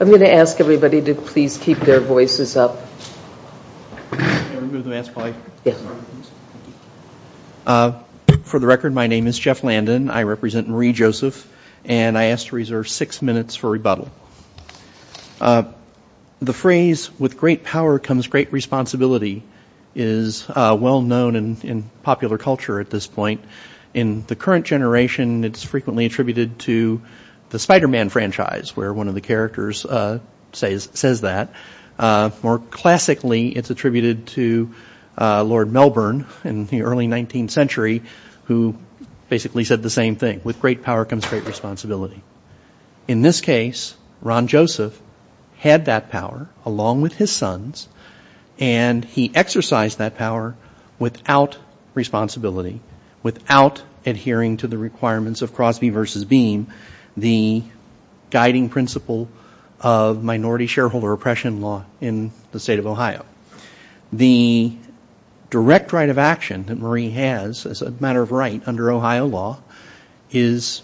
I'm going to ask everybody to please keep their voices up. For the record, my name is Jeff Landon, I represent Marie Joseph, and I ask to reserve six minutes for rebuttal. The phrase, with great power comes great responsibility, is well known in popular culture at this point. In the current generation, it's frequently attributed to the Spider-Man franchise, where one of the characters says that. More classically, it's attributed to Lord Melbourne in the early 19th century, who basically said the same thing, with great power comes great responsibility. In this case, Ron Joseph had that power, along with his sons, and he exercised that power without responsibility, without adhering to the requirements of Crosby v. Beam, the guiding principle of minority shareholder oppression law in the state of Ohio. The direct right of action that Marie has, as a matter of right under Ohio law, is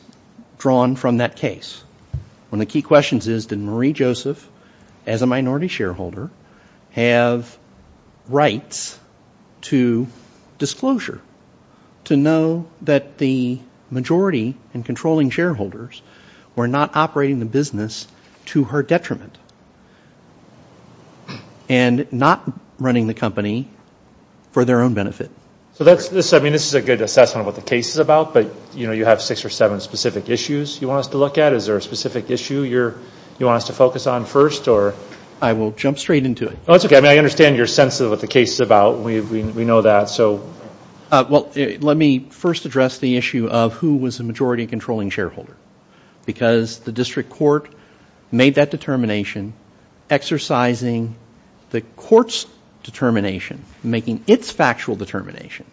drawn from that case. One of the key questions is, did Marie Joseph, as a minority shareholder, have rights to disclosure? To know that the majority and controlling shareholders were not operating the business to her detriment, and not running the company for their own benefit. This is a good assessment of what the case is about, but you have six or seven specific issues you want us to look at. Is there a specific issue you want us to focus on first? I will jump straight into it. I understand your sense of what the case is about. We know that. Let me first address the issue of who was the majority and controlling shareholder. The district court made that determination, exercising the court's determination, making its factual determination,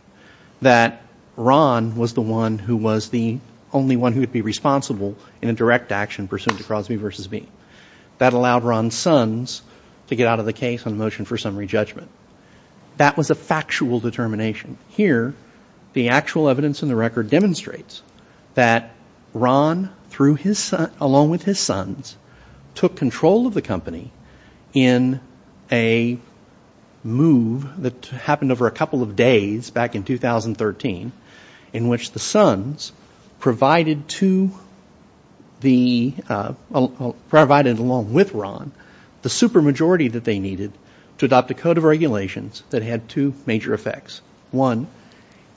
that Ron was the one who was the only one who would be responsible in a direct action pursuant to Crosby v. Beam. That allowed Ron's sons to get out of the case on a motion for summary judgment. That was a factual determination. Here, the actual evidence in the record demonstrates that Ron, along with his sons, took control of the company in a move that happened over a couple of days back in 2013, in which the court provided, along with Ron, the supermajority that they needed to adopt a code of regulations that had two major effects. One,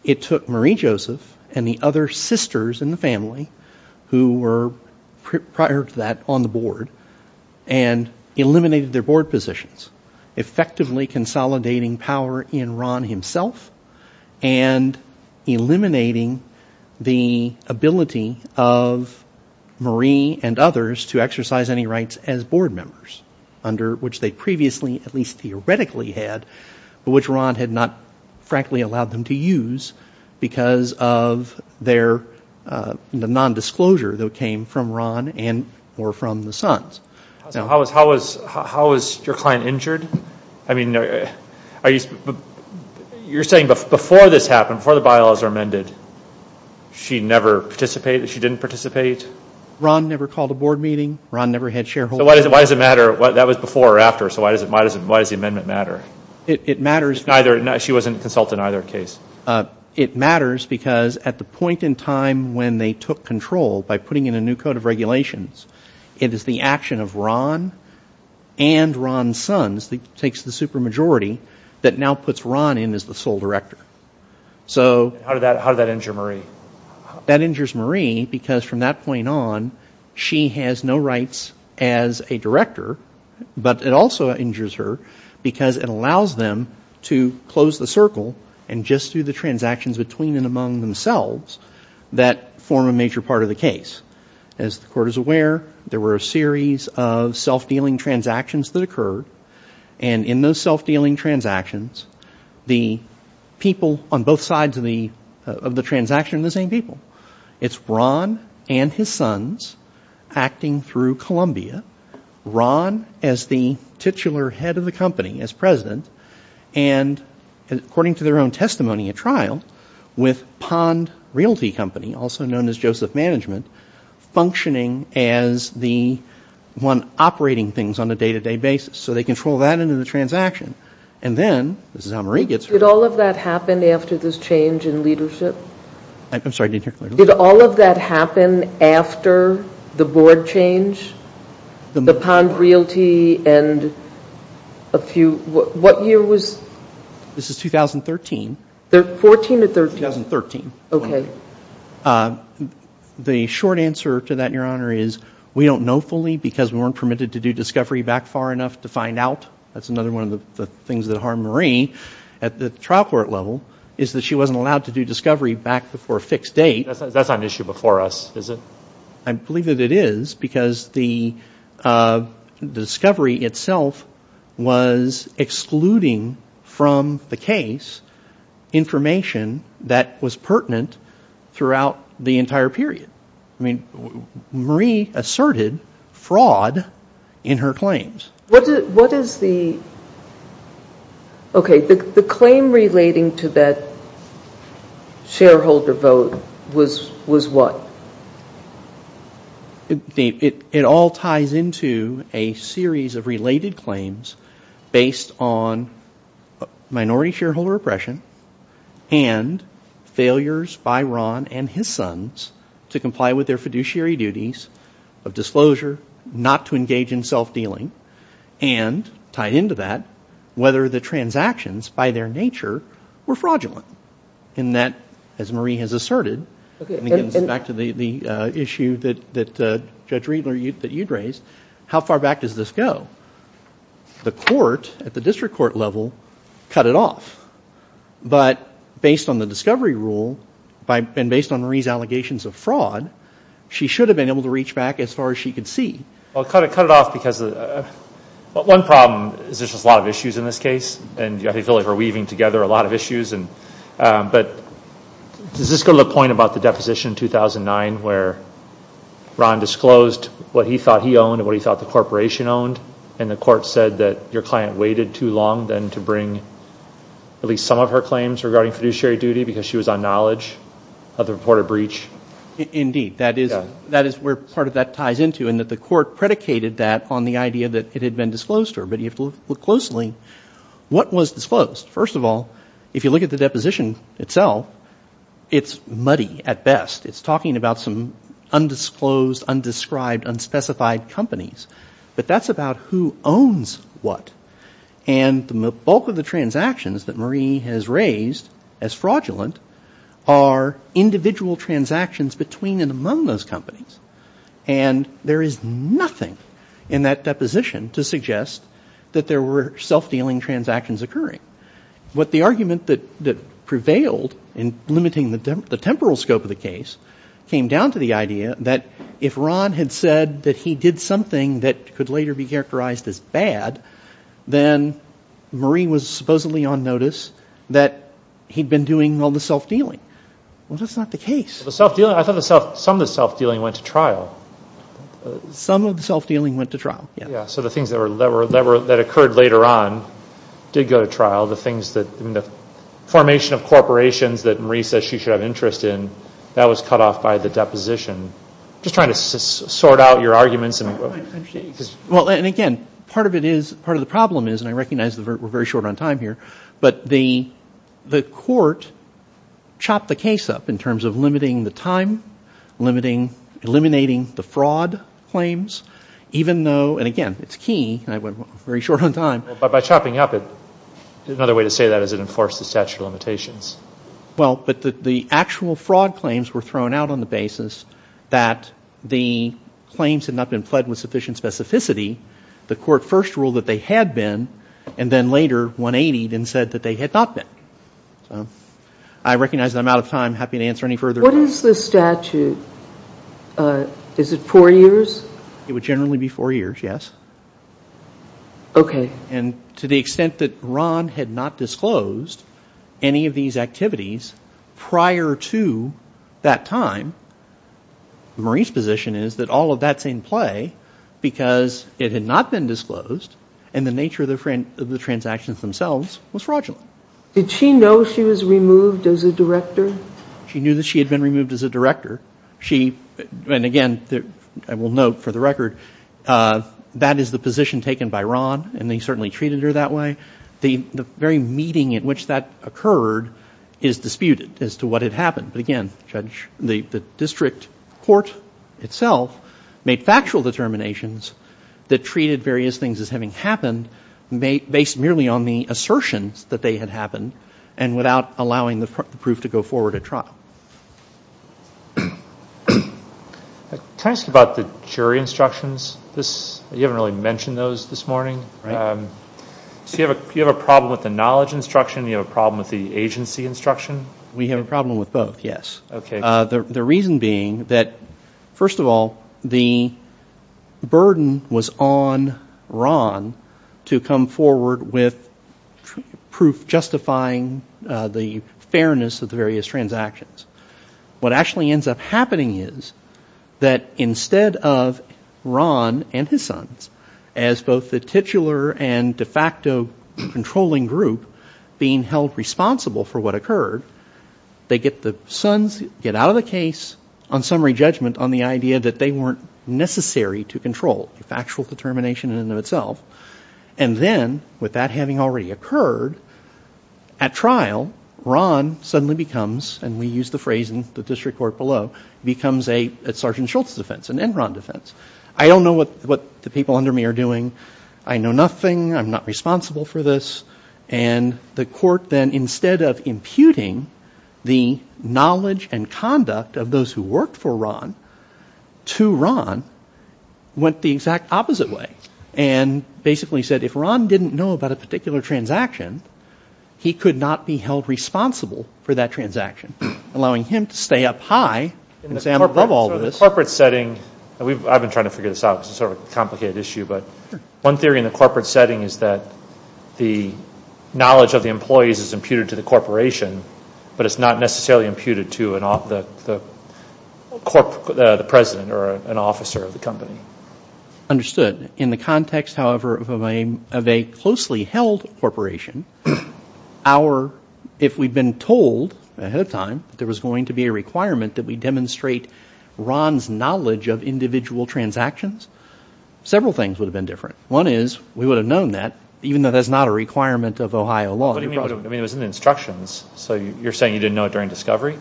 it took Marie Joseph and the other sisters in the family who were, prior to that, on the board, and eliminated their board positions, effectively consolidating power in Ron himself and eliminating the ability of Marie and others to exercise any rights as board members, under which they previously, at least theoretically, had, but which Ron had not, frankly, allowed them to use because of their nondisclosure that came from Ron and or from the sons. How was your client injured? I mean, you're saying before this happened, before the bylaws were amended, she never participated, she didn't participate? Ron never called a board meeting. Ron never had shareholders. So why does it matter? That was before or after, so why does the amendment matter? It matters. She wasn't consulted in either case. It matters because at the point in time when they took control by putting in a new code of regulations, it is the action of Ron and Ron's sons that takes the supermajority that now puts Ron in as the sole director. So how did that injure Marie? That injures Marie because from that point on, she has no rights as a director, but it also injures her because it allows them to close the circle and just do the transactions between and among themselves that form a major part of the case. As the court is aware, there were a series of self-dealing transactions that occurred and in those self-dealing transactions, the people on both sides of the transaction are the same people. It's Ron and his sons acting through Columbia, Ron as the titular head of the company as and according to their own testimony at trial with Pond Realty Company, also known as Joseph Management, functioning as the one operating things on a day-to-day basis. So they control that into the transaction and then, this is how Marie gets rid of it. Did all of that happen after this change in leadership? I'm sorry, did you hear clearly? Did all of that happen after the board change, the Pond Realty and a few, what year was this? This is 2013. 14 or 13? 2013. Okay. The short answer to that, Your Honor, is we don't know fully because we weren't permitted to do discovery back far enough to find out. That's another one of the things that harmed Marie at the trial court level is that she wasn't allowed to do discovery back before a fixed date. That's not an issue before us, is it? I believe that it is because the discovery itself was excluding from the case information that was pertinent throughout the entire period. I mean, Marie asserted fraud in her claims. What is the, okay, the claim relating to that shareholder vote was what? Well, it all ties into a series of related claims based on minority shareholder oppression and failures by Ron and his sons to comply with their fiduciary duties of disclosure, not to engage in self-dealing, and tied into that, whether the transactions by their nature were fraudulent in that, as Marie has asserted, and again, back to the issue that Judge Riedler, that you'd raised, how far back does this go? The court at the district court level cut it off, but based on the discovery rule and based on Marie's allegations of fraud, she should have been able to reach back as far as she could see. Well, it kind of cut it off because one problem is there's just a lot of issues in this case and I feel like we're weaving together a lot of issues, but does this go to the point about the deposition in 2009 where Ron disclosed what he thought he owned and what he thought the corporation owned, and the court said that your client waited too long then to bring at least some of her claims regarding fiduciary duty because she was on knowledge of the reported breach? Indeed. That is where part of that ties into, and that the court predicated that on the idea that it had been disclosed to her, but you have to look closely. What was disclosed? First of all, if you look at the deposition itself, it's muddy at best. It's talking about some undisclosed, undescribed, unspecified companies, but that's about who owns what, and the bulk of the transactions that Marie has raised as fraudulent are individual transactions between and among those companies, and there is nothing in that deposition to suggest that there were self-dealing transactions occurring. What the argument that prevailed in limiting the temporal scope of the case came down to the idea that if Ron had said that he did something that could later be characterized as bad, then Marie was supposedly on notice that he'd been doing all the self-dealing. Well, that's not the case. The self-dealing? I thought some of the self-dealing went to trial. Some of the self-dealing went to trial, yes. So the things that occurred later on did go to trial, the formation of corporations that Marie says she should have interest in, that was cut off by the deposition. Just trying to sort out your arguments. Well, and again, part of it is, part of the problem is, and I recognize we're very short on time here, but the court chopped the case up in terms of limiting the time, eliminating the fraud claims, even though, and again, it's key, and I went very short on time. By chopping up, another way to say that is it enforced the statute of limitations. Well, but the actual fraud claims were thrown out on the basis that the claims had not been identified with sufficient specificity. The court first ruled that they had been, and then later 180'd and said that they had not been. I recognize I'm out of time, happy to answer any further. What is the statute? Is it four years? It would generally be four years, yes. Okay. And to the extent that Ron had not disclosed any of these activities prior to that time, Marie's position is that all of that's in play because it had not been disclosed, and the nature of the transactions themselves was fraudulent. Did she know she was removed as a director? She knew that she had been removed as a director. She, and again, I will note for the record, that is the position taken by Ron, and they certainly treated her that way. The very meeting in which that occurred is disputed as to what had happened. But again, Judge, the district court itself made factual determinations that treated various things as having happened based merely on the assertions that they had happened and without allowing the proof to go forward at trial. Can I ask you about the jury instructions? You haven't really mentioned those this morning. Right. So you have a problem with the knowledge instruction, you have a problem with the agency instruction? We have a problem with both, yes. The reason being that, first of all, the burden was on Ron to come forward with proof justifying the fairness of the various transactions. What actually ends up happening is that instead of Ron and his sons, as both the titular and They get the sons, get out of the case on summary judgment on the idea that they weren't necessary to control, a factual determination in and of itself. And then, with that having already occurred, at trial, Ron suddenly becomes, and we use the phrase in the district court below, becomes a Sergeant Schultz defense, an Enron defense. I don't know what the people under me are doing. I know nothing. I'm not responsible for this. And the court then, instead of imputing the knowledge and conduct of those who worked for Ron to Ron, went the exact opposite way. And basically said, if Ron didn't know about a particular transaction, he could not be held responsible for that transaction, allowing him to stay up high and say, I'm above all of this. In the corporate setting, I've been trying to figure this out because it's sort of a knowledge of the employees is imputed to the corporation, but it's not necessarily imputed to the president or an officer of the company. Understood. In the context, however, of a closely held corporation, if we'd been told ahead of time there was going to be a requirement that we demonstrate Ron's knowledge of individual transactions, several things would have been different. One is, we would have known that, even though that's not a requirement of Ohio law. What do you mean? It was in the instructions. So you're saying you didn't know it during discovery?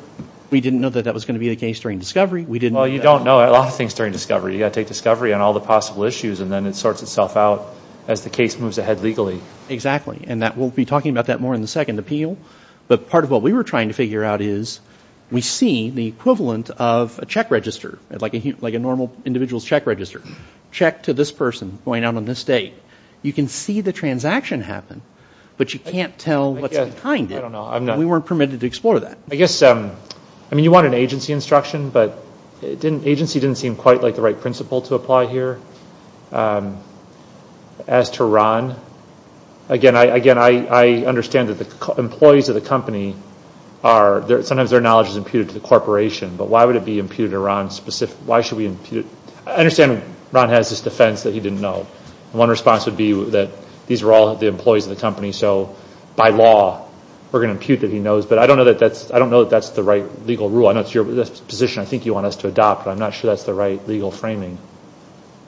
We didn't know that that was going to be the case during discovery. We didn't know that. Well, you don't know a lot of things during discovery. You've got to take discovery on all the possible issues and then it sorts itself out as the case moves ahead legally. Exactly. And we'll be talking about that more in the second appeal. But part of what we were trying to figure out is, we see the equivalent of a check register, like a normal individual's check register. Check to this person going out on this date. You can see the transaction happen, but you can't tell what's behind it. I don't know. We weren't permitted to explore that. I guess, I mean, you want an agency instruction, but agency didn't seem quite like the right principle to apply here. As to Ron, again, I understand that the employees of the company are, sometimes their knowledge is imputed to the corporation, but why would it be imputed to Ron specifically? Why should we impute? I understand Ron has this defense that he didn't know. One response would be that these were all the employees of the company, so by law, we're going to impute that he knows. But I don't know that that's the right legal rule. I know it's your position, I think you want us to adopt, but I'm not sure that's the right legal framing.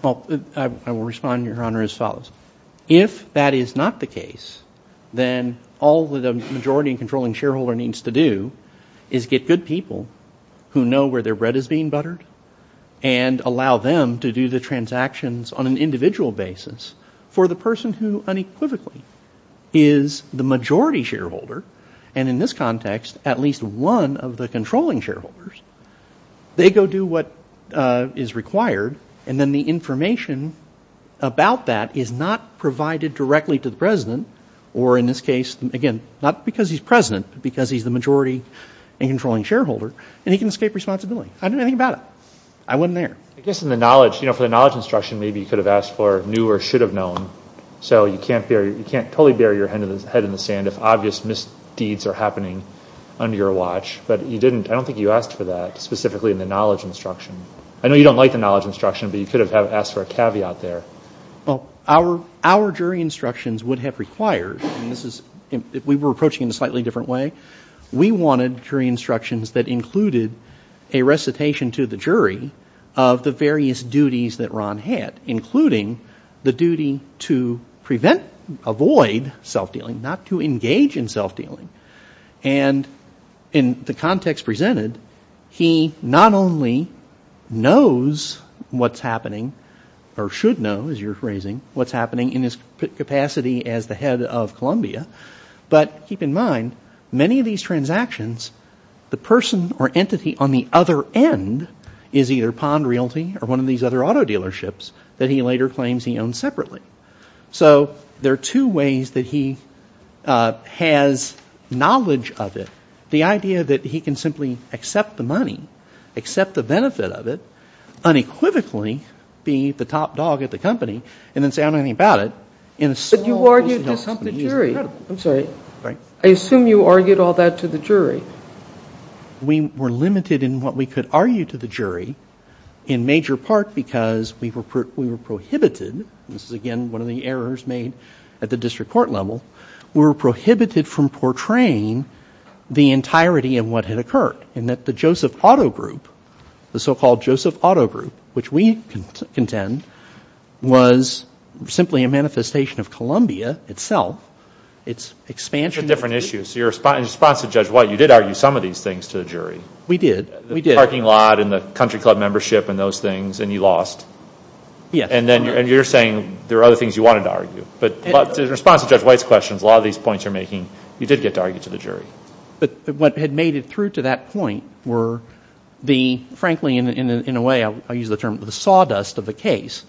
Well, I will respond, Your Honor, as follows. If that is not the case, then all the majority controlling shareholder needs to do is get good people who know where their bread is being buttered, and allow them to do the transactions on an individual basis for the person who unequivocally is the majority shareholder, and in this context, at least one of the controlling shareholders. They go do what is required, and then the information about that is not provided directly to the president, or in this case, again, not because he's president, but because he's the majority and controlling shareholder, and he can escape responsibility. I didn't think about it. I wasn't there. I guess in the knowledge, you know, for the knowledge instruction, maybe you could have asked for new or should have known. So you can't totally bury your head in the sand if obvious misdeeds are happening under your watch, but you didn't, I don't think you asked for that, specifically in the knowledge instruction. I know you don't like the knowledge instruction, but you could have asked for a caveat there. Well, our jury instructions would have required, and this is, we were approaching it in a slightly different way. We wanted jury instructions that included a recitation to the jury of the various duties that Ron had, including the duty to prevent, avoid self-dealing, not to engage in self-dealing. And in the context presented, he not only knows what's happening, or should know, as you're phrasing, what's happening in his capacity as the head of Columbia, but keep in mind that many of these transactions, the person or entity on the other end is either Pond Realty or one of these other auto dealerships that he later claims he owns separately. So there are two ways that he has knowledge of it. The idea that he can simply accept the money, accept the benefit of it, unequivocally be the top dog at the company, and then say, I don't know anything about it, in a small company. But what about the jury? I'm sorry. I assume you argued all that to the jury. We were limited in what we could argue to the jury, in major part because we were prohibited, this is again one of the errors made at the district court level, we were prohibited from portraying the entirety of what had occurred, in that the Joseph Auto Group, the so-called It's expansion. It's a different issue. So in response to Judge White, you did argue some of these things to the jury. We did. We did. The parking lot and the country club membership and those things, and you lost. And then you're saying there are other things you wanted to argue. But in response to Judge White's questions, a lot of these points you're making, you did get to argue to the jury. But what had made it through to that point were the, frankly, in a way, I use the term sawdust of the case,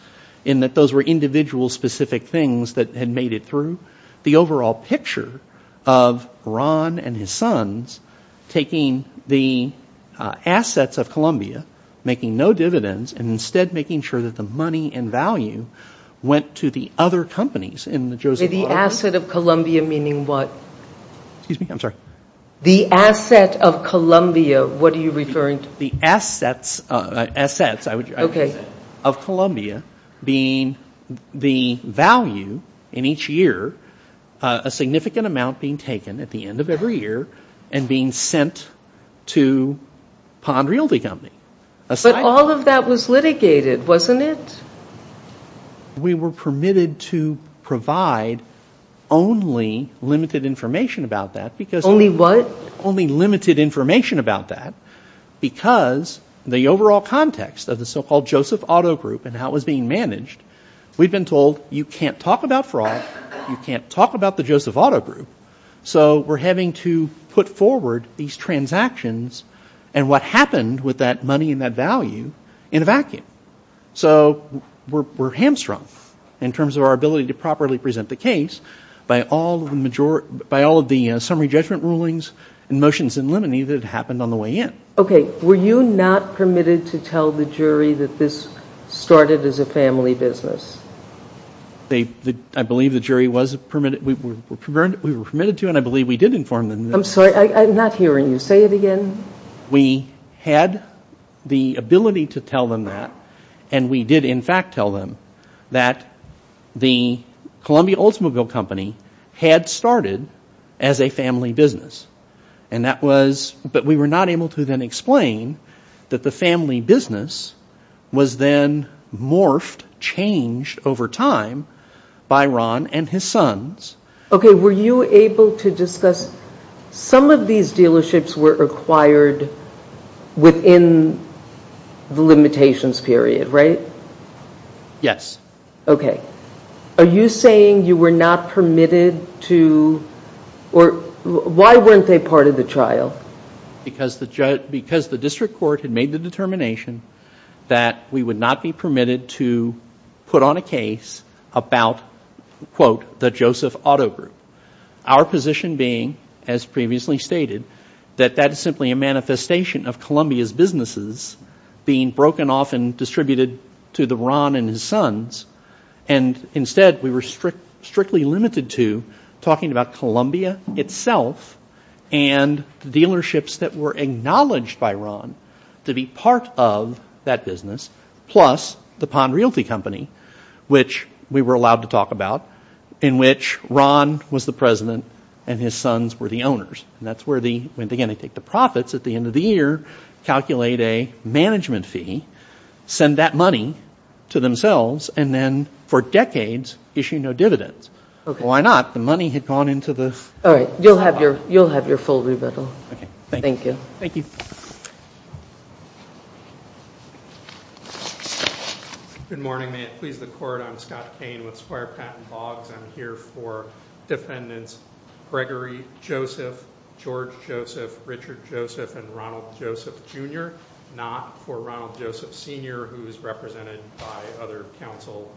in that those were individual specific things that had made it through. The overall picture of Ron and his sons taking the assets of Columbia, making no dividends, and instead making sure that the money and value went to the other companies in the Joseph Auto Group. The asset of Columbia meaning what? Excuse me? I'm sorry. The asset of Columbia, what are you referring to? The assets. Assets. Assets. Okay. Of Columbia being the value in each year, a significant amount being taken at the end of every year and being sent to Pond Realty Company. But all of that was litigated, wasn't it? We were permitted to provide only limited information about that because... Only what? Only limited information about that because the overall context of the so-called Joseph Auto Group and how it was being managed, we've been told, you can't talk about fraud, you can't talk about the Joseph Auto Group. So we're having to put forward these transactions and what happened with that money and that value in a vacuum. So we're hamstrung in terms of our ability to properly present the case by all of the summary judgment rulings and motions in limine that had happened on the way in. Okay. Were you not permitted to tell the jury that this started as a family business? I believe the jury was permitted. We were permitted to and I believe we did inform them. I'm sorry. I'm not hearing you. Say it again. We had the ability to tell them that and we did in fact tell them that the Columbia Oldsmobile Company had started as a family business. And that was... But we were not able to then explain that the family business was then morphed, changed over time by Ron and his sons. Okay. Were you able to discuss... Some of these dealerships were acquired within the limitations period, right? Yes. Okay. Are you saying you were not permitted to... Why weren't they part of the trial? Because the district court had made the determination that we would not be permitted to put on a case about, quote, the Joseph Auto Group. Our position being, as previously stated, that that is simply a manifestation of Columbia's being broken off and distributed to the Ron and his sons. And instead, we were strictly limited to talking about Columbia itself and the dealerships that were acknowledged by Ron to be part of that business, plus the Pond Realty Company, which we were allowed to talk about, in which Ron was the president and his sons were the owners. And that's where the... calculate a management fee, send that money to themselves, and then, for decades, issue no dividends. Why not? The money had gone into the... All right. You'll have your full rebuttal. Okay. Thank you. Thank you. Good morning. May it please the court. I'm Scott Kane with Squire Patent Boggs. I'm here for defendants Gregory Joseph, George Joseph, Richard Joseph, and Ronald Joseph. I'm here for Ronald Joseph, Jr., not for Ronald Joseph, Sr., who's represented by other counsel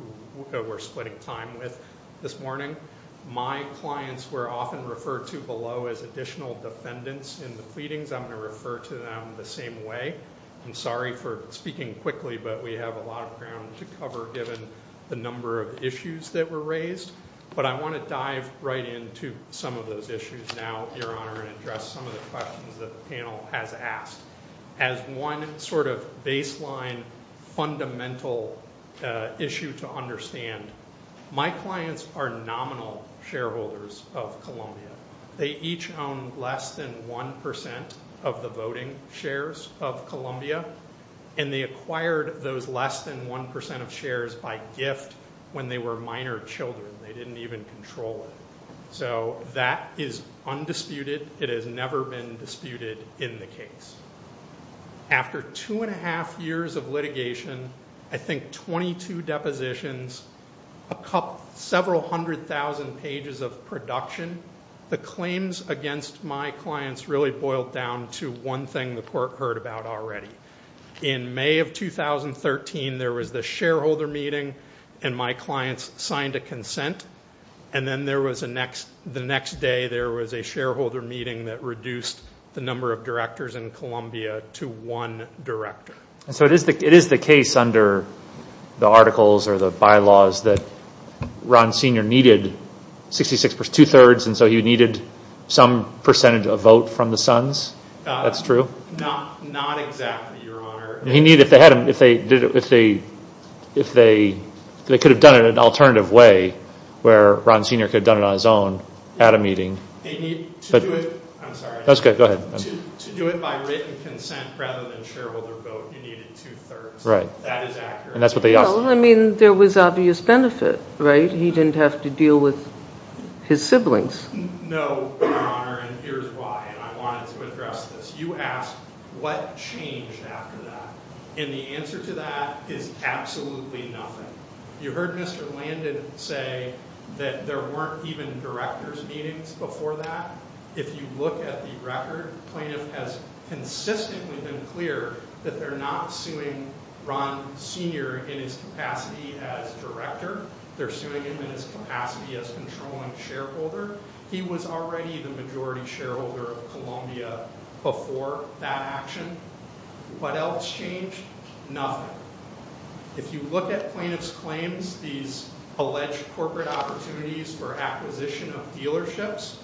who we're splitting time with this morning. My clients were often referred to below as additional defendants in the pleadings. I'm going to refer to them the same way. I'm sorry for speaking quickly, but we have a lot of ground to cover, given the number of issues that were raised. But I want to dive right into some of those issues now, Your Honor, and address some of the questions that the panel has asked. As one sort of baseline, fundamental issue to understand, my clients are nominal shareholders of Columbia. They each own less than 1% of the voting shares of Columbia, and they acquired those less than 1% of shares by gift when they were minor children. They didn't even control it. So that is undisputed. It has never been disputed in the case. After two and a half years of litigation, I think 22 depositions, several hundred thousand pages of production, the claims against my clients really boiled down to one thing the court heard about already. In May of 2013, there was the shareholder meeting, and my clients signed a consent. And then the next day, there was a shareholder meeting that reduced the number of directors in Columbia to one director. So it is the case under the articles or the bylaws that Ron Sr. needed two-thirds, and so he needed some percentage of vote from the sons? That's true? Not exactly, Your Honor. If they could have done it in an alternative way, where Ron Sr. could have done it on his own at a meeting. I'm sorry. That's good. Go ahead. To do it by written consent rather than shareholder vote, you needed two-thirds. Right. That is accurate. Well, I mean, there was obvious benefit, right? He didn't have to deal with his siblings. No, Your Honor, and here's why, and I wanted to address this. You asked, what changed after that? And the answer to that is absolutely nothing. You heard Mr. Landon say that there weren't even director's meetings before that. If you look at the record, plaintiff has consistently been clear that they're not suing Ron Sr. in his capacity as director. They're suing him in his capacity as controlling shareholder. He was already the majority shareholder of Columbia before that action. What else changed? Nothing. If you look at plaintiff's claims, these alleged corporate opportunities for acquisition of dealerships,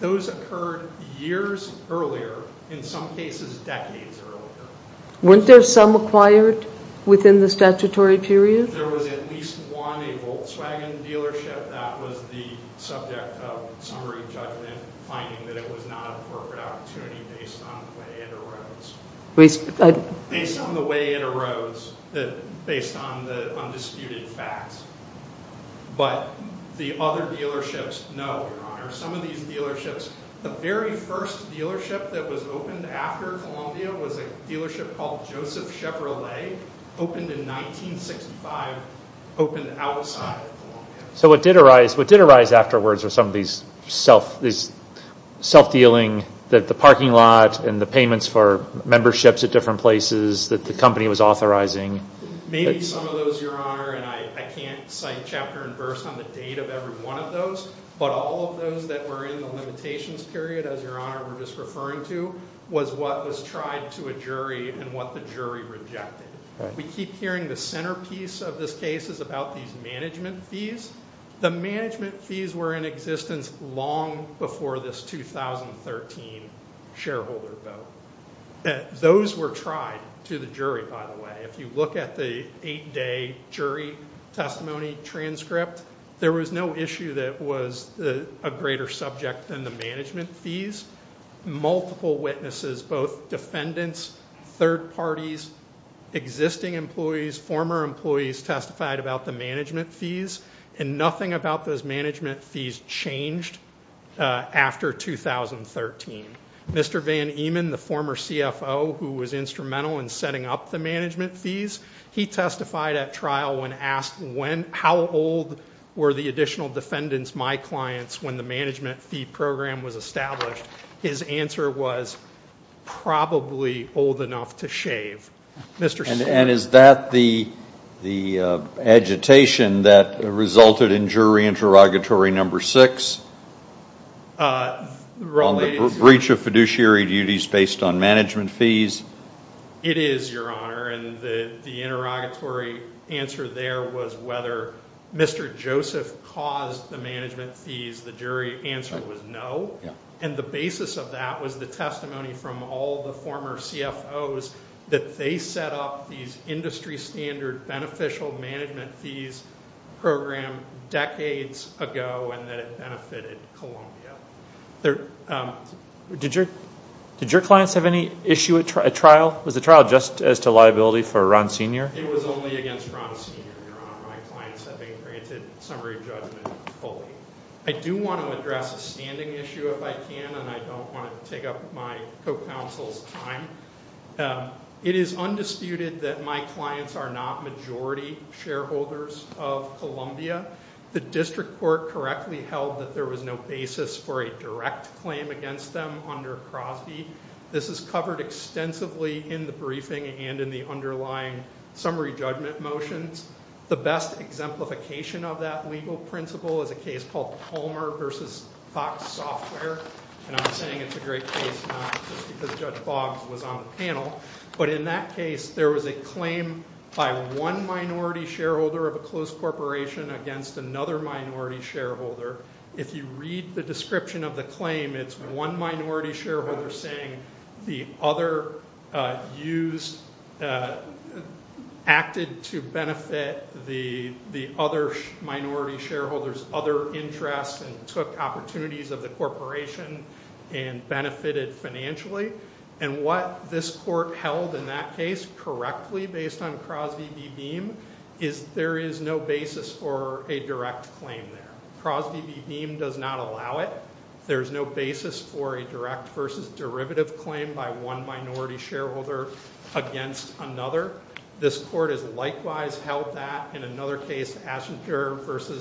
those occurred years earlier, in some cases decades earlier. Weren't there some acquired within the statutory period? There was at least one, a Volkswagen dealership that was the subject of summary judgment, finding that it was not a corporate opportunity based on the way it arose, based on the undisputed facts. But the other dealerships, no, Your Honor. Some of these dealerships, the very first dealership that was opened after Columbia was a dealership called Joseph Chevrolet, opened in 1965, opened outside of Columbia. So what did arise afterwards were some of these self-dealing, the parking lot and the payments for memberships at different places that the company was authorizing. Maybe some of those, Your Honor, and I can't cite chapter and verse on the date of every one of those, but all of those that were in the limitations period, as Your Honor was just referring to, was what was tried to a jury and what the jury rejected. We keep hearing the centerpiece of this case is about these management fees. The management fees were in existence long before this 2013 shareholder vote. Those were tried to the jury, by the way. If you look at the eight-day jury testimony transcript, there was no issue that was a greater subject than the management fees. Multiple witnesses, both defendants, third parties, existing employees, former employees testified about the management fees, and nothing about those management fees changed after 2013. Mr. Van Emen, the former CFO who was instrumental in setting up the management fees, he testified at trial when asked how old were the additional defendants, my clients, when the management fee program was established. His answer was, probably old enough to shave. And is that the agitation that resulted in jury interrogatory number six, on the breach of fiduciary duties based on management fees? It is, Your Honor. The interrogatory answer there was whether Mr. Joseph caused the management fees. The jury answer was no. And the basis of that was the testimony from all the former CFOs that they set up these industry standard beneficial management fees program decades ago, and that it benefited Columbia. Did your clients have any issue at trial? Was the trial just as to liability for Ron Senior? It was only against Ron Senior, Your Honor. My clients have been granted summary judgment fully. I do want to address a standing issue if I can, and I don't want to take up my co-counsel's time. It is undisputed that my clients are not majority shareholders of Columbia. The district court correctly held that there was no basis for a direct claim against them under Crosby. This is covered extensively in the briefing and in the underlying summary judgment motions. The best exemplification of that legal principle is a case called Palmer v. Fox Software, and I'm saying it's a great case not just because Judge Boggs was on the panel, but in that case there was a claim by one minority shareholder of a closed corporation against another minority shareholder. If you read the description of the claim, it's one minority shareholder saying the other acted to benefit the other minority shareholder's other interests and took opportunities of the corporation and benefited financially. And what this court held in that case correctly based on Crosby v. Beam is there is no basis for a direct claim there. Crosby v. Beam does not allow it. There is no basis for a direct versus derivative claim by one minority shareholder against another. This court has likewise held that. In another case, Ashenburg v.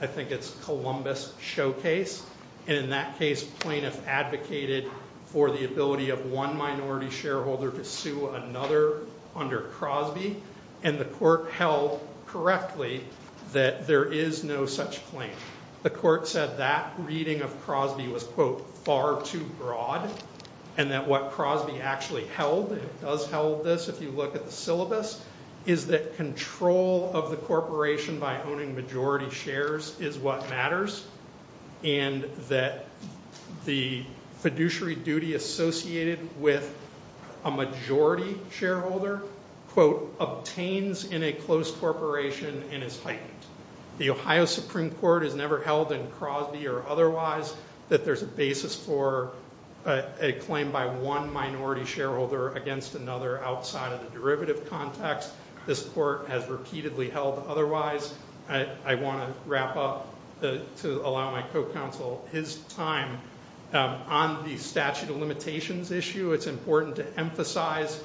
I think it's Columbus Showcase, and in that case plaintiffs advocated for the ability of one minority shareholder to sue another under Crosby, and the court held correctly that there is no such claim. The court said that reading of Crosby was, quote, far too broad, and that what Crosby actually held, and it does hold this if you look at the syllabus, is that control of the corporation by owning majority shares is what matters, and that the fiduciary duty associated with a majority shareholder, quote, obtains in a closed corporation and is heightened. The Ohio Supreme Court has never held in Crosby or otherwise that there's a basis for a claim by one minority shareholder against another outside of the derivative context. This court has repeatedly held otherwise. I want to wrap up to allow my co-counsel his time. On the statute of limitations issue, it's important to emphasize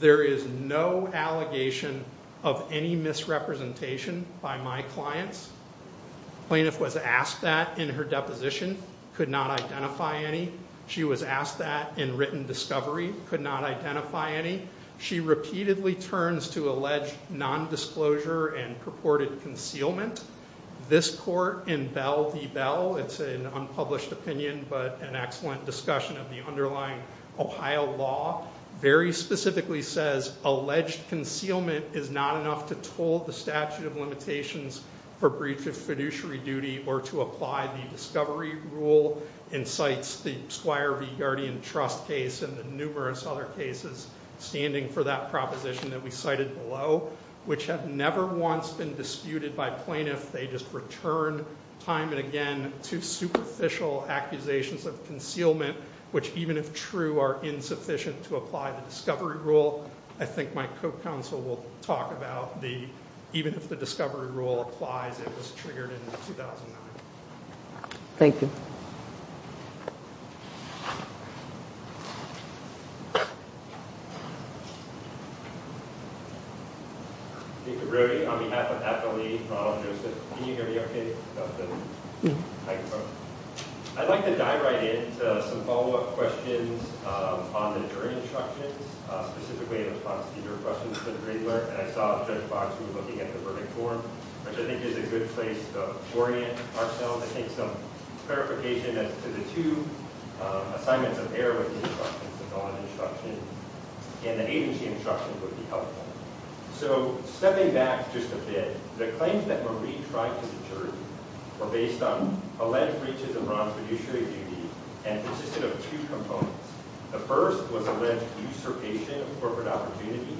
there is no allegation of any misrepresentation by my clients. The plaintiff was asked that in her deposition, could not identify any. She was asked that in written discovery, could not identify any. She repeatedly turns to alleged nondisclosure and purported concealment. This court in Bell v. Bell, it's an unpublished opinion but an excellent discussion of the underlying Ohio law, very specifically says alleged concealment is not enough to toll the statute of limitations for breach of fiduciary duty or to apply the discovery rule and cites the Squire v. Guardian trust case and the numerous other cases standing for that proposition that we cited below, which have never once been disputed by plaintiff. They just returned time and again to superficial accusations of concealment, which even if true are insufficient to apply the discovery rule. I think my co-counsel will talk about even if the discovery rule applies, it was triggered in 2009. Thank you. I'd like to dive right into some follow-up questions on the jury instructions, specifically in response to your questions for the Greenberg. And I saw Judge Boxley looking at the verdict form, which I think is a good place to orient ourselves. I think some clarification as to the two assignments of error with the instructions, the non-instruction and the agency instruction would be helpful. So stepping back just a bit, the claims that Marie tried to deter were based on alleged breaches of bronze fiduciary duty and consisted of two components. The first was alleged usurpation of corporate opportunity,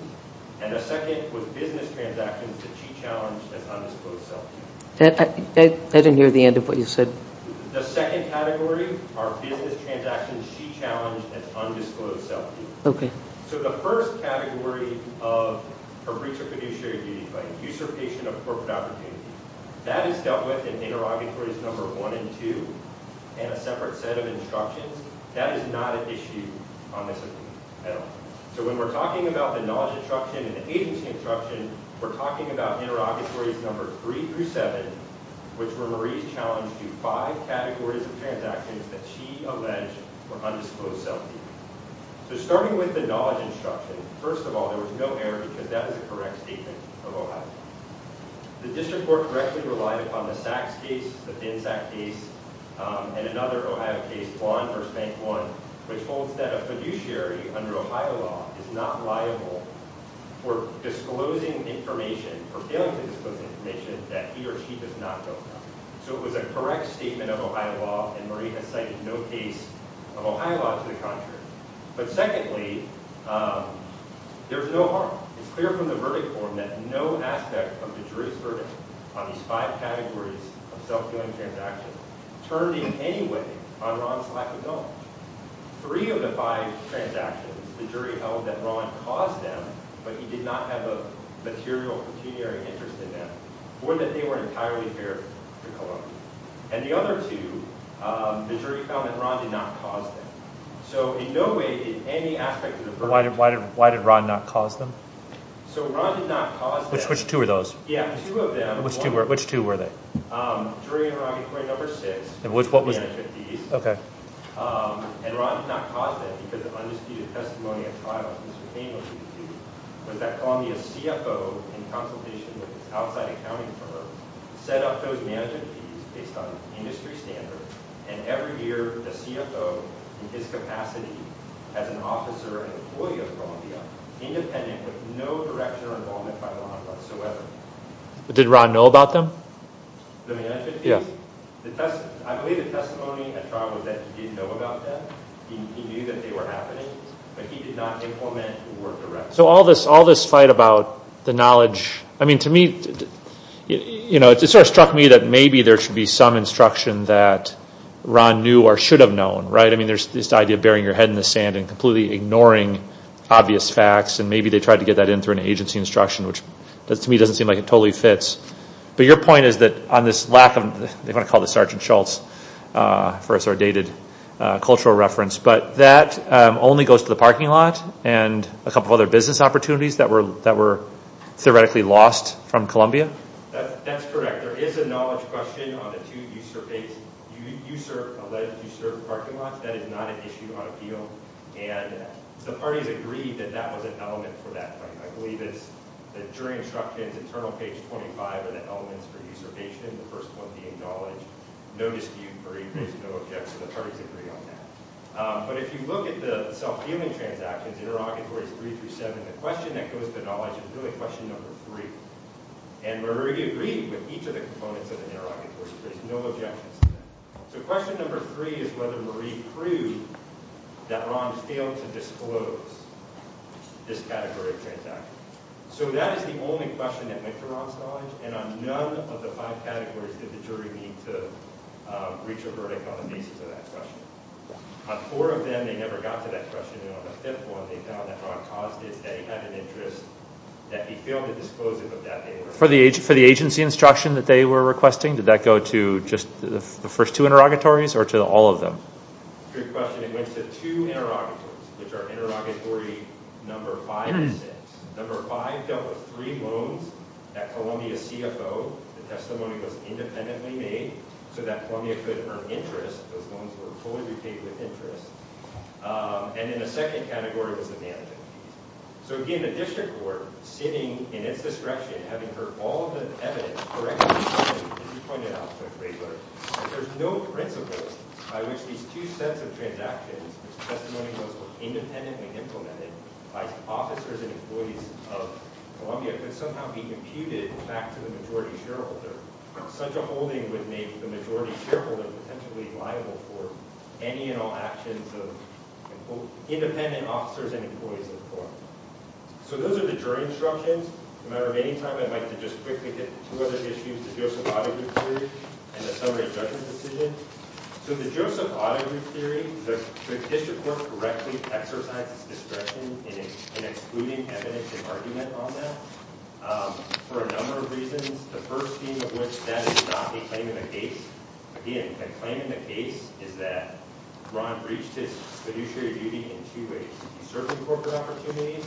and the second was business transactions that she challenged as undisclosed self-duty. I didn't hear the end of what you said. The second category are business transactions she challenged as undisclosed self-duty. Okay. So the first category of a breach of fiduciary duty, like usurpation of corporate opportunity, that is dealt with in interrogatories number one and two and a separate set of instructions. That is not an issue on this appeal at all. So when we're talking about the knowledge instruction and the agency instruction, we're talking about interrogatories number three through seven, which were Marie's challenge to five categories of transactions that she alleged were undisclosed self-duty. So starting with the knowledge instruction, first of all, there was no error because that was a correct statement of Ohio. The district court directly relied upon the Sachs case, the FinSAC case, and another Ohio case, Blond versus Bank One, which holds that a fiduciary under Ohio law is not liable for disclosing information or failing to disclose information that he or she does not know about. So it was a correct statement of Ohio law, and Marie has cited no case of Ohio law to the contrary. But secondly, there's no harm. It's clear from the verdict form that no aspect of the jury's verdict on these five categories of self-doing transactions turned in any way on Ron's lack of knowledge. Three of the five transactions, the jury held that Ron caused them, but he did not have a material pecuniary interest in them, or that they were entirely fair to Columbia. And the other two, the jury found that Ron did not cause them. So in no way did any aspect of the verdict... Why did Ron not cause them? So Ron did not cause them... Which two were those? Yeah, two of them. Which two were they? Jury in Haragi Court No. 6, the management fees. Okay. And Ron did not cause them because of undisputed testimony at trial. Was that Columbia's CFO, in consultation with his outside accounting firm, set up those management fees based on industry standards, and every year the CFO, in his capacity as an officer and employee of Columbia, independent with no direction or involvement by Ron whatsoever? Did Ron know about them? The management fees? Yeah. I believe the testimony at trial was that he didn't know about them. He knew that they were happening, but he did not implement or direct them. So all this fight about the knowledge... It sort of struck me that maybe there should be some instruction that Ron knew or should have known, right? I mean, there's this idea of burying your head in the sand and completely ignoring obvious facts, and maybe they tried to get that in through an agency instruction, which to me doesn't seem like it totally fits. But your point is that on this lack of... They want to call this Sergeant Schultz for a sordid cultural reference, but that only goes to the parking lot and a couple of other business opportunities that were theoretically lost from Columbia? That's correct. There is a knowledge question on the two USERP-based... USERP-alleged USERP parking lots. That is not an issue on appeal, and the parties agreed that that was an element for that fight. I believe it's the jury instructions, internal page 25, are the elements for USERP-ation, the first one being knowledge. No dispute, Marie, there's no objection. The parties agree on that. But if you look at the self-healing transactions, interrogatories three through seven, the question that goes to knowledge is really question number three. And Marie agreed with each of the components of the interrogatory, so there's no objections to that. So question number three is whether Marie proved that Ron failed to disclose this category of transactions. So that is the only question that went to Ron's knowledge, and on none of the five categories did the jury need to reach a verdict on the basis of that question. On four of them, they never got to that question. And on the fifth one, they found that Ron caused it. They had an interest that he failed to disclose it, but that they were... For the agency instruction that they were requesting, did that go to just the first two interrogatories or to all of them? Good question. It went to two interrogatories, which are interrogatory number five and six. Number five dealt with three loans at Columbia CFO. The testimony was independently made so that Columbia could earn interest. Those loans were fully repaid with interest. And then the second category was the management fees. So again, a district court sitting in its discretion, having heard all of the evidence, as you pointed out, Judge Raebler, that there's no principle by which these two sets of transactions, whose testimony was independently implemented by officers and employees of Columbia, could somehow be imputed back to the majority shareholder. Such a holding would make the majority shareholder potentially liable for any and all actions of independent officers and employees of Columbia. So those are the jury instructions. As a matter of any time, I'd like to just quickly hit two other issues, the Joseph-Otto group theory and the summary judgment decision. So the Joseph-Otto group theory, the district court correctly exercised its discretion in excluding evidence and argument on that for a number of reasons. The first being of which that is not a claim in the case. Again, the claim in the case is that Ron breached his fiduciary duty in two ways, usurping corporate opportunities.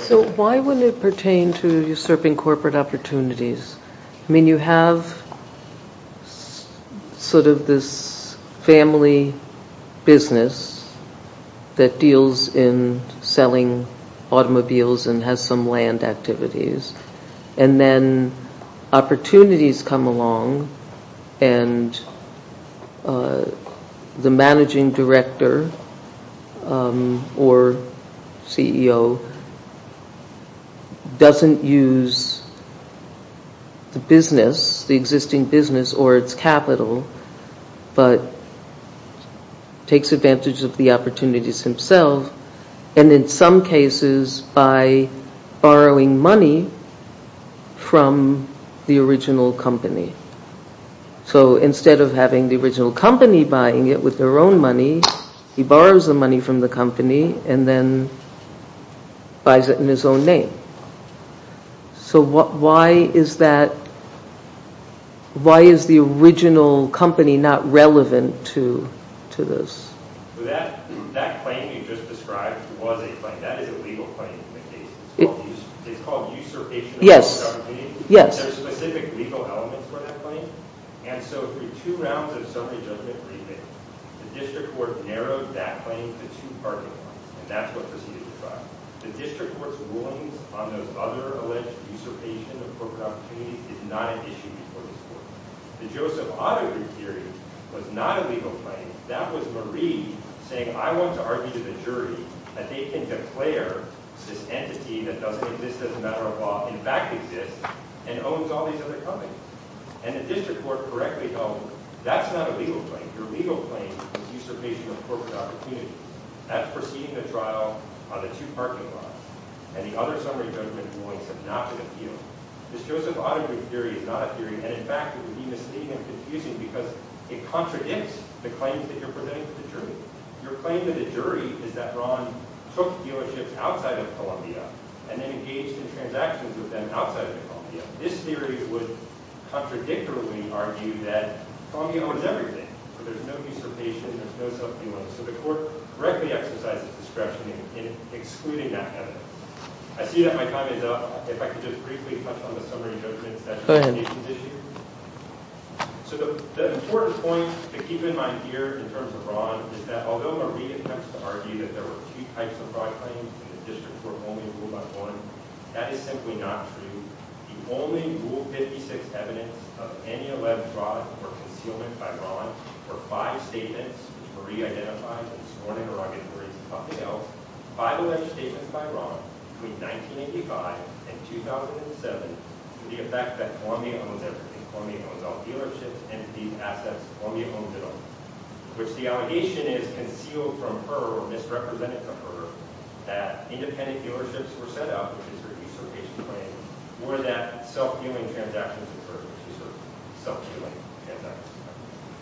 So why would it pertain to usurping corporate opportunities? I mean, you have sort of this family business that deals in selling automobiles and has some land activities, and then opportunities come along, and the managing director or CEO doesn't use the business, the existing business or its capital, but takes advantage of the opportunities himself, and in some cases by borrowing money from the original company. So instead of having the original company buying it with their own money, he borrows the money from the company and then buys it in his own name. So why is that, why is the original company not relevant to this? So that claim you just described was a claim. That is a legal claim in the case. It's called usurpation of corporate opportunities. There are specific legal elements for that claim, and so through two rounds of summary judgment rebate, the district court narrowed that claim to two parting points, and that's what proceeded the trial. The district court's rulings on those other alleged usurpation of corporate opportunities is not an issue before this court. The Joseph-Otto group theory was not a legal claim. That was Marie saying, I want to argue to the jury that they can declare this entity that doesn't exist as a matter of law, in fact exists, and owns all these other companies. And the district court correctly held that's not a legal claim. Your legal claim is usurpation of corporate opportunities. That's proceeding the trial on the two parking lots, and the other summary judgment rulings have not been appealed. This Joseph-Otto group theory is not a theory, and in fact it would be misleading and confusing because it contradicts the claims that you're presenting to the jury. Your claim to the jury is that Ron took dealerships outside of Columbia and then engaged in transactions with them outside of Columbia. This theory would contradictorily argue that Columbia owns everything, so there's no usurpation, there's no self-dealing, so the court correctly exercises discretion in excluding that evidence. I see that my time is up. If I could just briefly touch on the summary judgments that you mentioned this year. So the important point to keep in mind here in terms of Ron is that although Marie attempts to argue that there were two types of fraud claims and the districts were only ruled by one, that is simply not true. The only Rule 56 evidence of any alleged fraud or concealment by Ron were five statements, which Marie identified, and this morning her argument reads something else. Five alleged statements by Ron between 1985 and 2007 to the effect that Columbia owns everything, Columbia owns all dealerships, and these assets Columbia owns it all, which the allegation is concealed from her or misrepresented to her that independent dealerships were set up, which is her usurpation claim, or that self-dealing transactions occurred, which is her self-dealing transactions.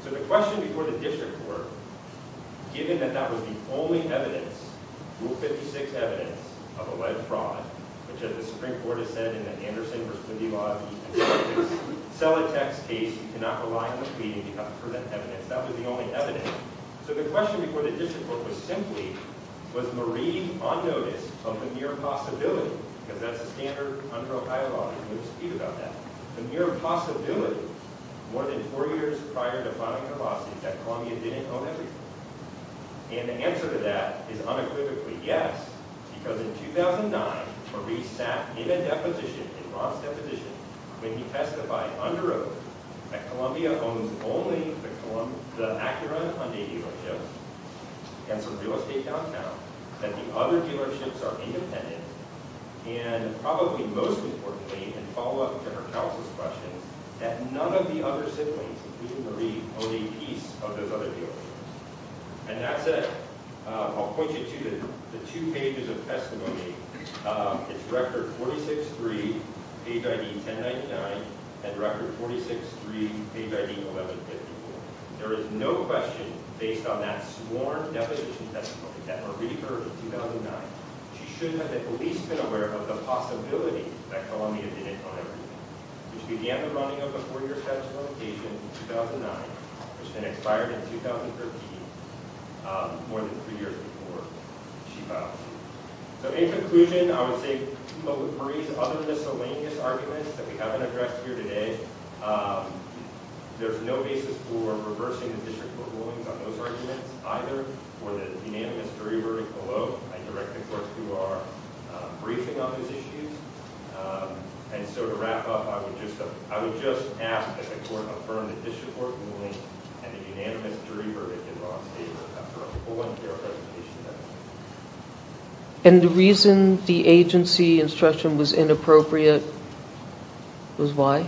So the question before the district court, given that that was the only evidence, Rule 56 evidence, of alleged fraud, which as the Supreme Court has said in the Anderson v. Quimby law, if you can sell a tax case, you cannot rely on the pleading to confer that evidence, that was the only evidence. So the question before the district court was simply, was Marie on notice of the mere possibility, because that's a standard under Ohio law, there's no dispute about that, the mere possibility more than four years prior to filing her lawsuit that Columbia didn't own everything. And the answer to that is unequivocally yes, because in 2009 Marie sat in a deposition, in Rob's deposition, when he testified under oath that Columbia owns only the Acura Hyundai dealership and some real estate downtown, that the other dealerships are independent, and probably most importantly, and follow up to her counsel's question, that none of the other siblings, including Marie, own a piece of those other dealerships. And that's it. I'll point you to the two pages of testimony. It's record 46-3, page ID 1099, and record 46-3, page ID 1154. There is no question based on that sworn deposition testimony that Marie heard in 2009, she should have at least been aware of the possibility that Columbia didn't own everything. Which began the running of the four-year statute of limitations in 2009, which then expired in 2013, more than three years before she filed suit. So in conclusion, I would say Marie's other miscellaneous arguments that we haven't addressed here today, there's no basis for reversing the district court rulings on those arguments, either for the unanimous jury verdict below, I direct the courts who are briefing on those issues. And so to wrap up, I would just ask that the court affirm that the district court ruling and the unanimous jury verdict are on paper after a full and fair presentation. And the reason the agency instruction was inappropriate was why?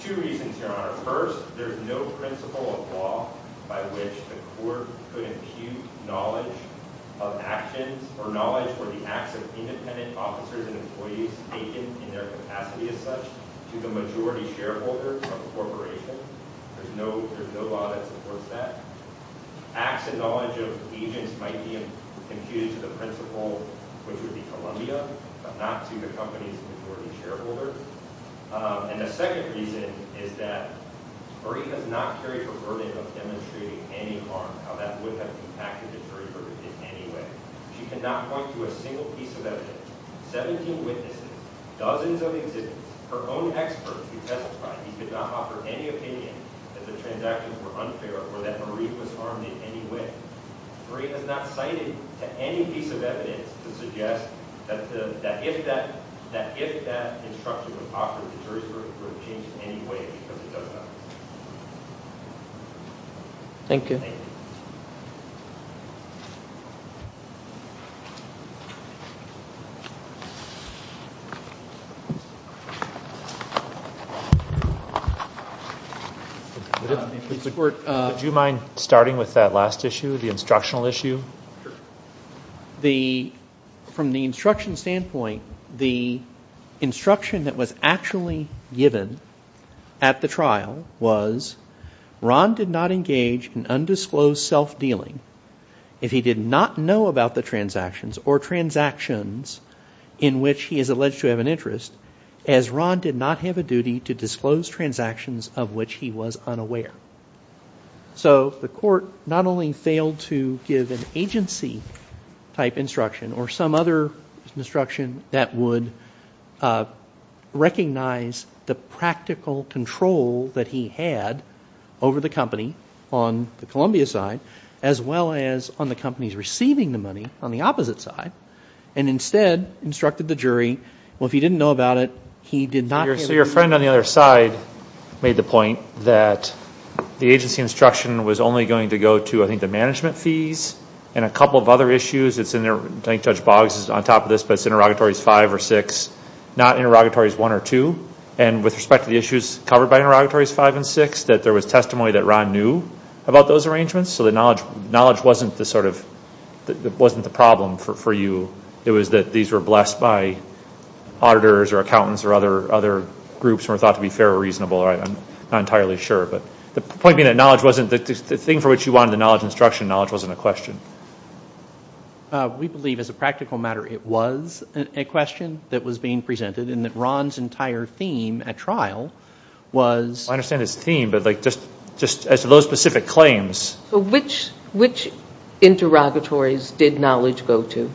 Two reasons, Your Honor. First, there's no principle of law by which the court could impute knowledge of actions or knowledge for the acts of independent officers and employees taken in their capacity as such to the majority shareholder of a corporation. There's no law that supports that. Acts and knowledge of agents might be imputed to the principal, which would be Columbia, but not to the company's majority shareholder. And the second reason is that Marie does not carry the burden of demonstrating any harm, how that would have impacted the jury verdict in any way. She cannot point to a single piece of evidence, 17 witnesses, dozens of exhibits, her own experts who testified that he could not offer any opinion that the transactions were unfair or that Marie was harmed in any way. Marie has not cited any piece of evidence to suggest that if that instruction was offered, the jury's verdict would have changed in any way, because it does not. Thank you. Thank you. Would you mind starting with that last issue, the instructional issue? Sure. From the instruction standpoint, the instruction that was actually given at the trial was, Ron did not engage in undisclosed self-dealing if he did not know about the transactions or transactions in which he is alleged to have an interest, as Ron did not have a duty to disclose transactions of which he was unaware. So the court not only failed to give an agency-type instruction or some other instruction that would recognize the practical control that he had over the company on the Columbia side, as well as on the company's receiving the money on the opposite side, and instead instructed the jury, well, if he didn't know about it, he did not have a duty. So your friend on the other side made the point that the agency instruction was only going to go to, I think, the management fees and a couple of other issues. I think Judge Boggs is on top of this, but it's interrogatories 5 or 6, not interrogatories 1 or 2. And with respect to the issues covered by interrogatories 5 and 6, that there was testimony that Ron knew about those arrangements, so that knowledge wasn't the problem for you. It was that these were blessed by auditors or accountants or other groups who were thought to be fair or reasonable. I'm not entirely sure, but the point being that knowledge wasn't the thing for which you wanted the knowledge instruction. Knowledge wasn't a question. We believe, as a practical matter, it was a question that was being presented and that Ron's entire theme at trial was... Well, I understand his theme, but just as to those specific claims... So which interrogatories did knowledge go to?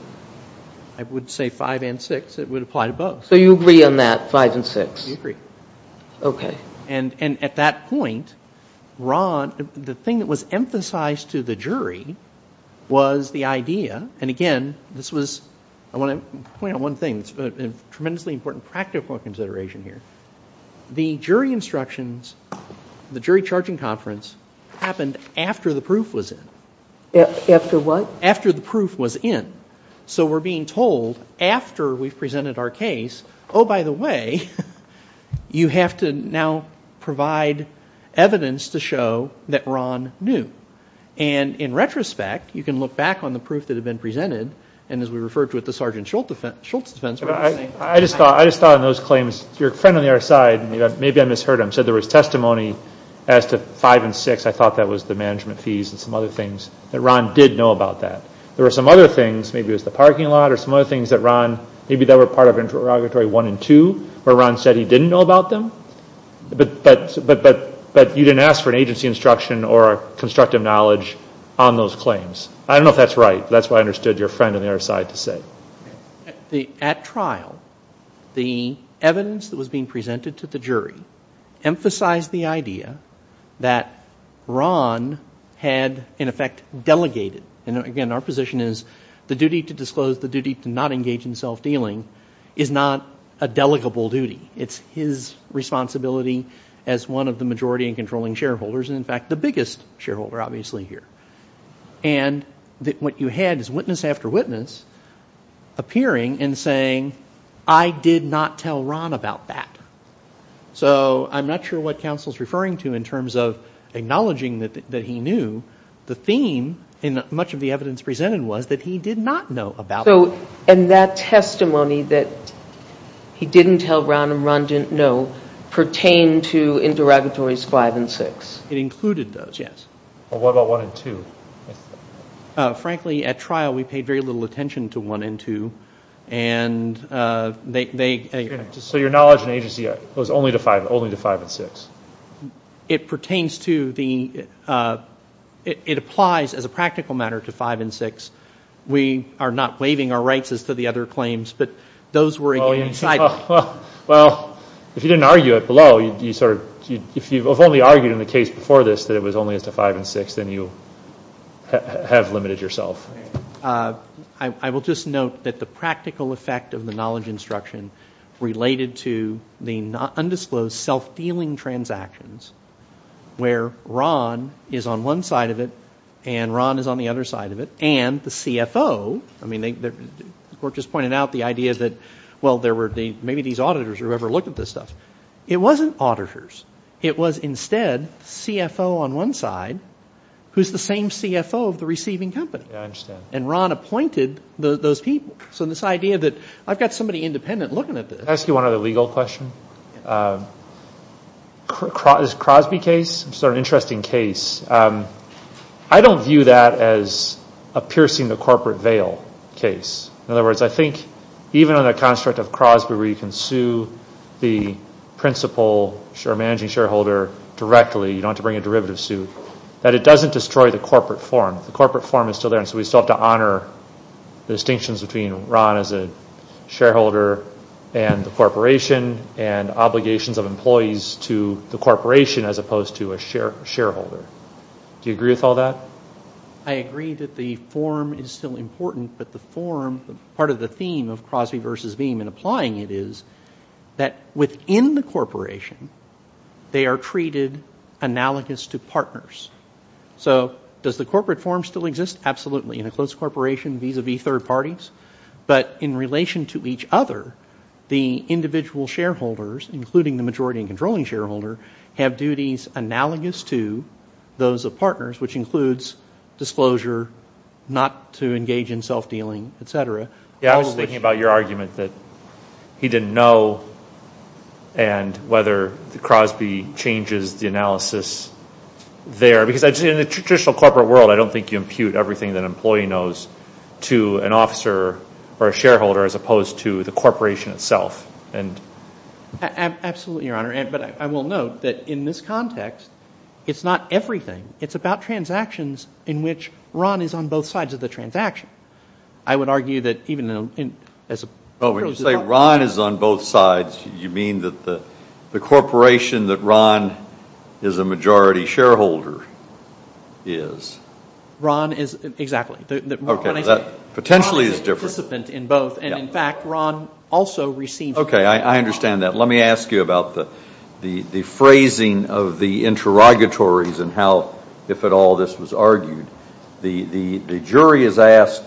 I would say 5 and 6. It would apply to both. So you agree on that, 5 and 6? I agree. Okay. And at that point, the thing that was emphasized to the jury was the idea, and again, I want to point out one thing. It's a tremendously important practical consideration here. The jury instructions, the jury charging conference, happened after the proof was in. After what? After the proof was in. So we're being told after we've presented our case, oh, by the way, you have to now provide evidence to show that Ron knew. And in retrospect, you can look back on the proof that had been presented, and as we referred to at the Sgt. Schultz defense... I just thought on those claims, your friend on the other side, maybe I misheard him, said there was testimony as to 5 and 6. I thought that was the management fees and some other things, that Ron did know about that. There were some other things, maybe it was the parking lot, or some other things that Ron, maybe they were part of interrogatory 1 and 2, where Ron said he didn't know about them, but you didn't ask for an agency instruction or constructive knowledge on those claims. I don't know if that's right. That's what I understood your friend on the other side to say. At trial, the evidence that was being presented to the jury emphasized the idea that Ron had, in effect, delegated. And again, our position is the duty to disclose, the duty to not engage in self-dealing is not a delegable duty. It's his responsibility as one of the majority and controlling shareholders, and in fact the biggest shareholder, obviously, here. And what you had is witness after witness appearing and saying, I did not tell Ron about that. So I'm not sure what counsel is referring to in terms of acknowledging that he knew. The theme in much of the evidence presented was that he did not know about it. And that testimony that he didn't tell Ron and Ron didn't know pertained to interrogatories 5 and 6. It included those, yes. Well, what about 1 and 2? Frankly, at trial, we paid very little attention to 1 and 2. And they So your knowledge and agency was only to 5 and 6. It pertains to the, it applies as a practical matter to 5 and 6. We are not waiving our rights as to the other claims, but those were again Well, if you didn't argue it below, you sort of, if you've only argued in the case before this that it was only as to 5 and 6, then you have limited yourself. I will just note that the practical effect of the knowledge instruction related to the undisclosed self-dealing transactions where Ron is on one side of it and Ron is on the other side of it, and the CFO, I mean, the court just pointed out the idea that, well, there were, maybe these auditors or whoever looked at this stuff. It wasn't auditors. It was instead CFO on one side who's the same CFO of the receiving company. Yeah, I understand. And Ron appointed those people. So this idea that I've got somebody independent looking at this. Can I ask you one other legal question? This Crosby case, it's an interesting case. I don't view that as a piercing the corporate veil case. In other words, I think even under the construct of Crosby where you can sue the principal or managing shareholder directly, you don't have to bring a derivative suit, that it doesn't destroy the corporate form. The corporate form is still there, and so we still have to honor the distinctions between Ron as a shareholder and the corporation and obligations of employees to the corporation as opposed to a shareholder. Do you agree with all that? I agree that the form is still important, but the form, part of the theme of Crosby versus Veeam in applying it is that within the corporation, they are treated analogous to partners. So does the corporate form still exist? Absolutely, in a closed corporation vis-a-vis third parties. But in relation to each other, the individual shareholders, including the majority and controlling shareholder, have duties analogous to those of partners, which includes disclosure not to engage in self-dealing, et cetera. I was thinking about your argument that he didn't know and whether Crosby changes the analysis there. Because in the traditional corporate world, I don't think you impute everything that an employee knows to an officer or a shareholder as opposed to the corporation itself. Absolutely, Your Honor. But I will note that in this context, it's not everything. It's about transactions in which Ron is on both sides of the transaction. I would argue that even as a person. Oh, when you say Ron is on both sides, you mean that the corporation that Ron is a majority shareholder is? Ron is, exactly. Okay, that potentially is different. Ron is a participant in both, and in fact, Ron also receives. Okay, I understand that. Let me ask you about the phrasing of the interrogatories and how, if at all, this was argued. The jury is asked,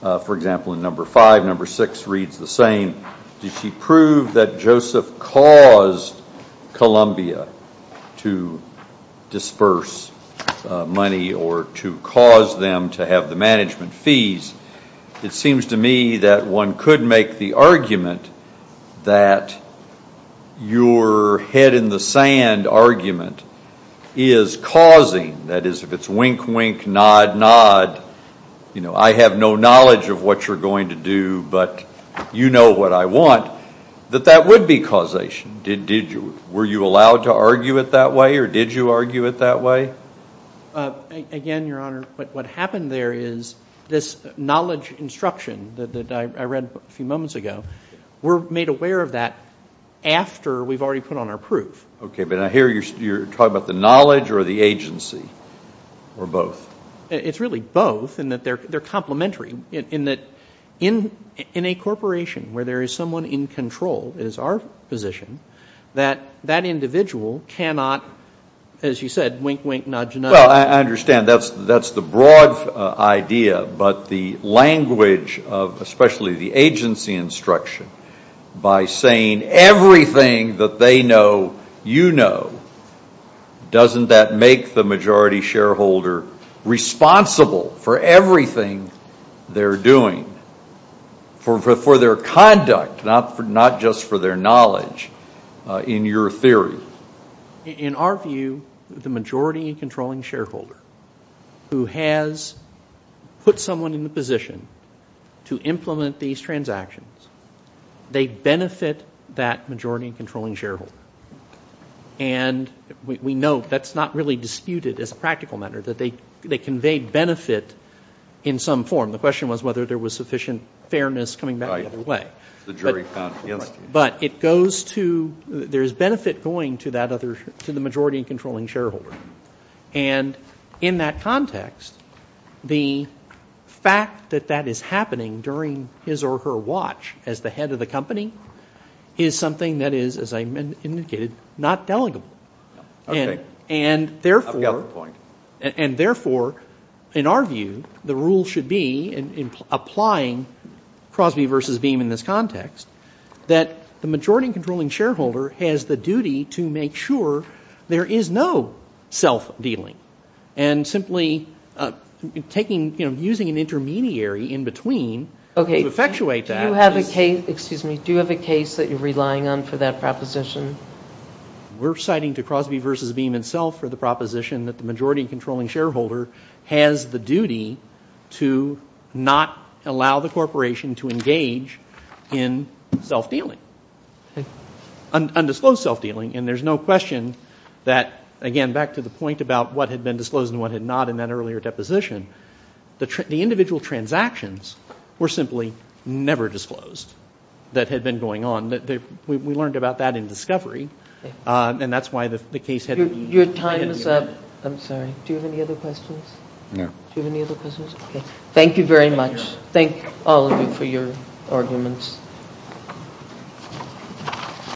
for example, in number five, number six reads the same, did she prove that Joseph caused Columbia to disperse money or to cause them to have the management fees? It seems to me that one could make the argument that your head in the sand argument is causing, that is, if it's wink, wink, nod, nod, I have no knowledge of what you're going to do but you know what I want, that that would be causation. Did you? Were you allowed to argue it that way or did you argue it that way? Again, Your Honor, what happened there is this knowledge instruction that I read a few moments ago, we're made aware of that after we've already put on our proof. Okay, but I hear you're talking about the knowledge or the agency or both. It's really both in that they're complementary, in that in a corporation where there is someone in control, it is our position, that that individual cannot, as you said, wink, wink, nod, nod. Well, I understand that's the broad idea, but the language of especially the agency instruction by saying everything that they know you know, doesn't that make the majority shareholder responsible for everything they're doing, for their conduct, not just for their knowledge in your theory? In our view, the majority controlling shareholder who has put someone in the position to implement these transactions, they benefit that majority controlling shareholder. And we know that's not really disputed as a practical matter, that they convey benefit in some form. The question was whether there was sufficient fairness coming back the other way. The jury found, yes. But it goes to, there is benefit going to that other, to the majority controlling shareholder. And in that context, the fact that that is happening during his or her watch as the head of the company, is something that is, as I indicated, not delegable. And therefore, in our view, the rule should be, in applying Crosby versus Beam in this context, that the majority controlling shareholder has the duty to make sure there is no self-dealing. And simply taking, using an intermediary in between to effectuate that. Do you have a case, excuse me, do you have a case that you're relying on for that proposition? We're citing to Crosby versus Beam itself for the proposition that the majority controlling shareholder has the duty to not allow the corporation to engage in self-dealing. Undisclosed self-dealing. And there's no question that, again, back to the point about what had been disclosed and what had not in that earlier deposition, the individual transactions were simply never disclosed that had been going on. We learned about that in discovery. And that's why the case hadn't been made. Your time is up. I'm sorry. Do you have any other questions? No. Do you have any other questions? Okay. Thank you very much. Thank all of you for your arguments.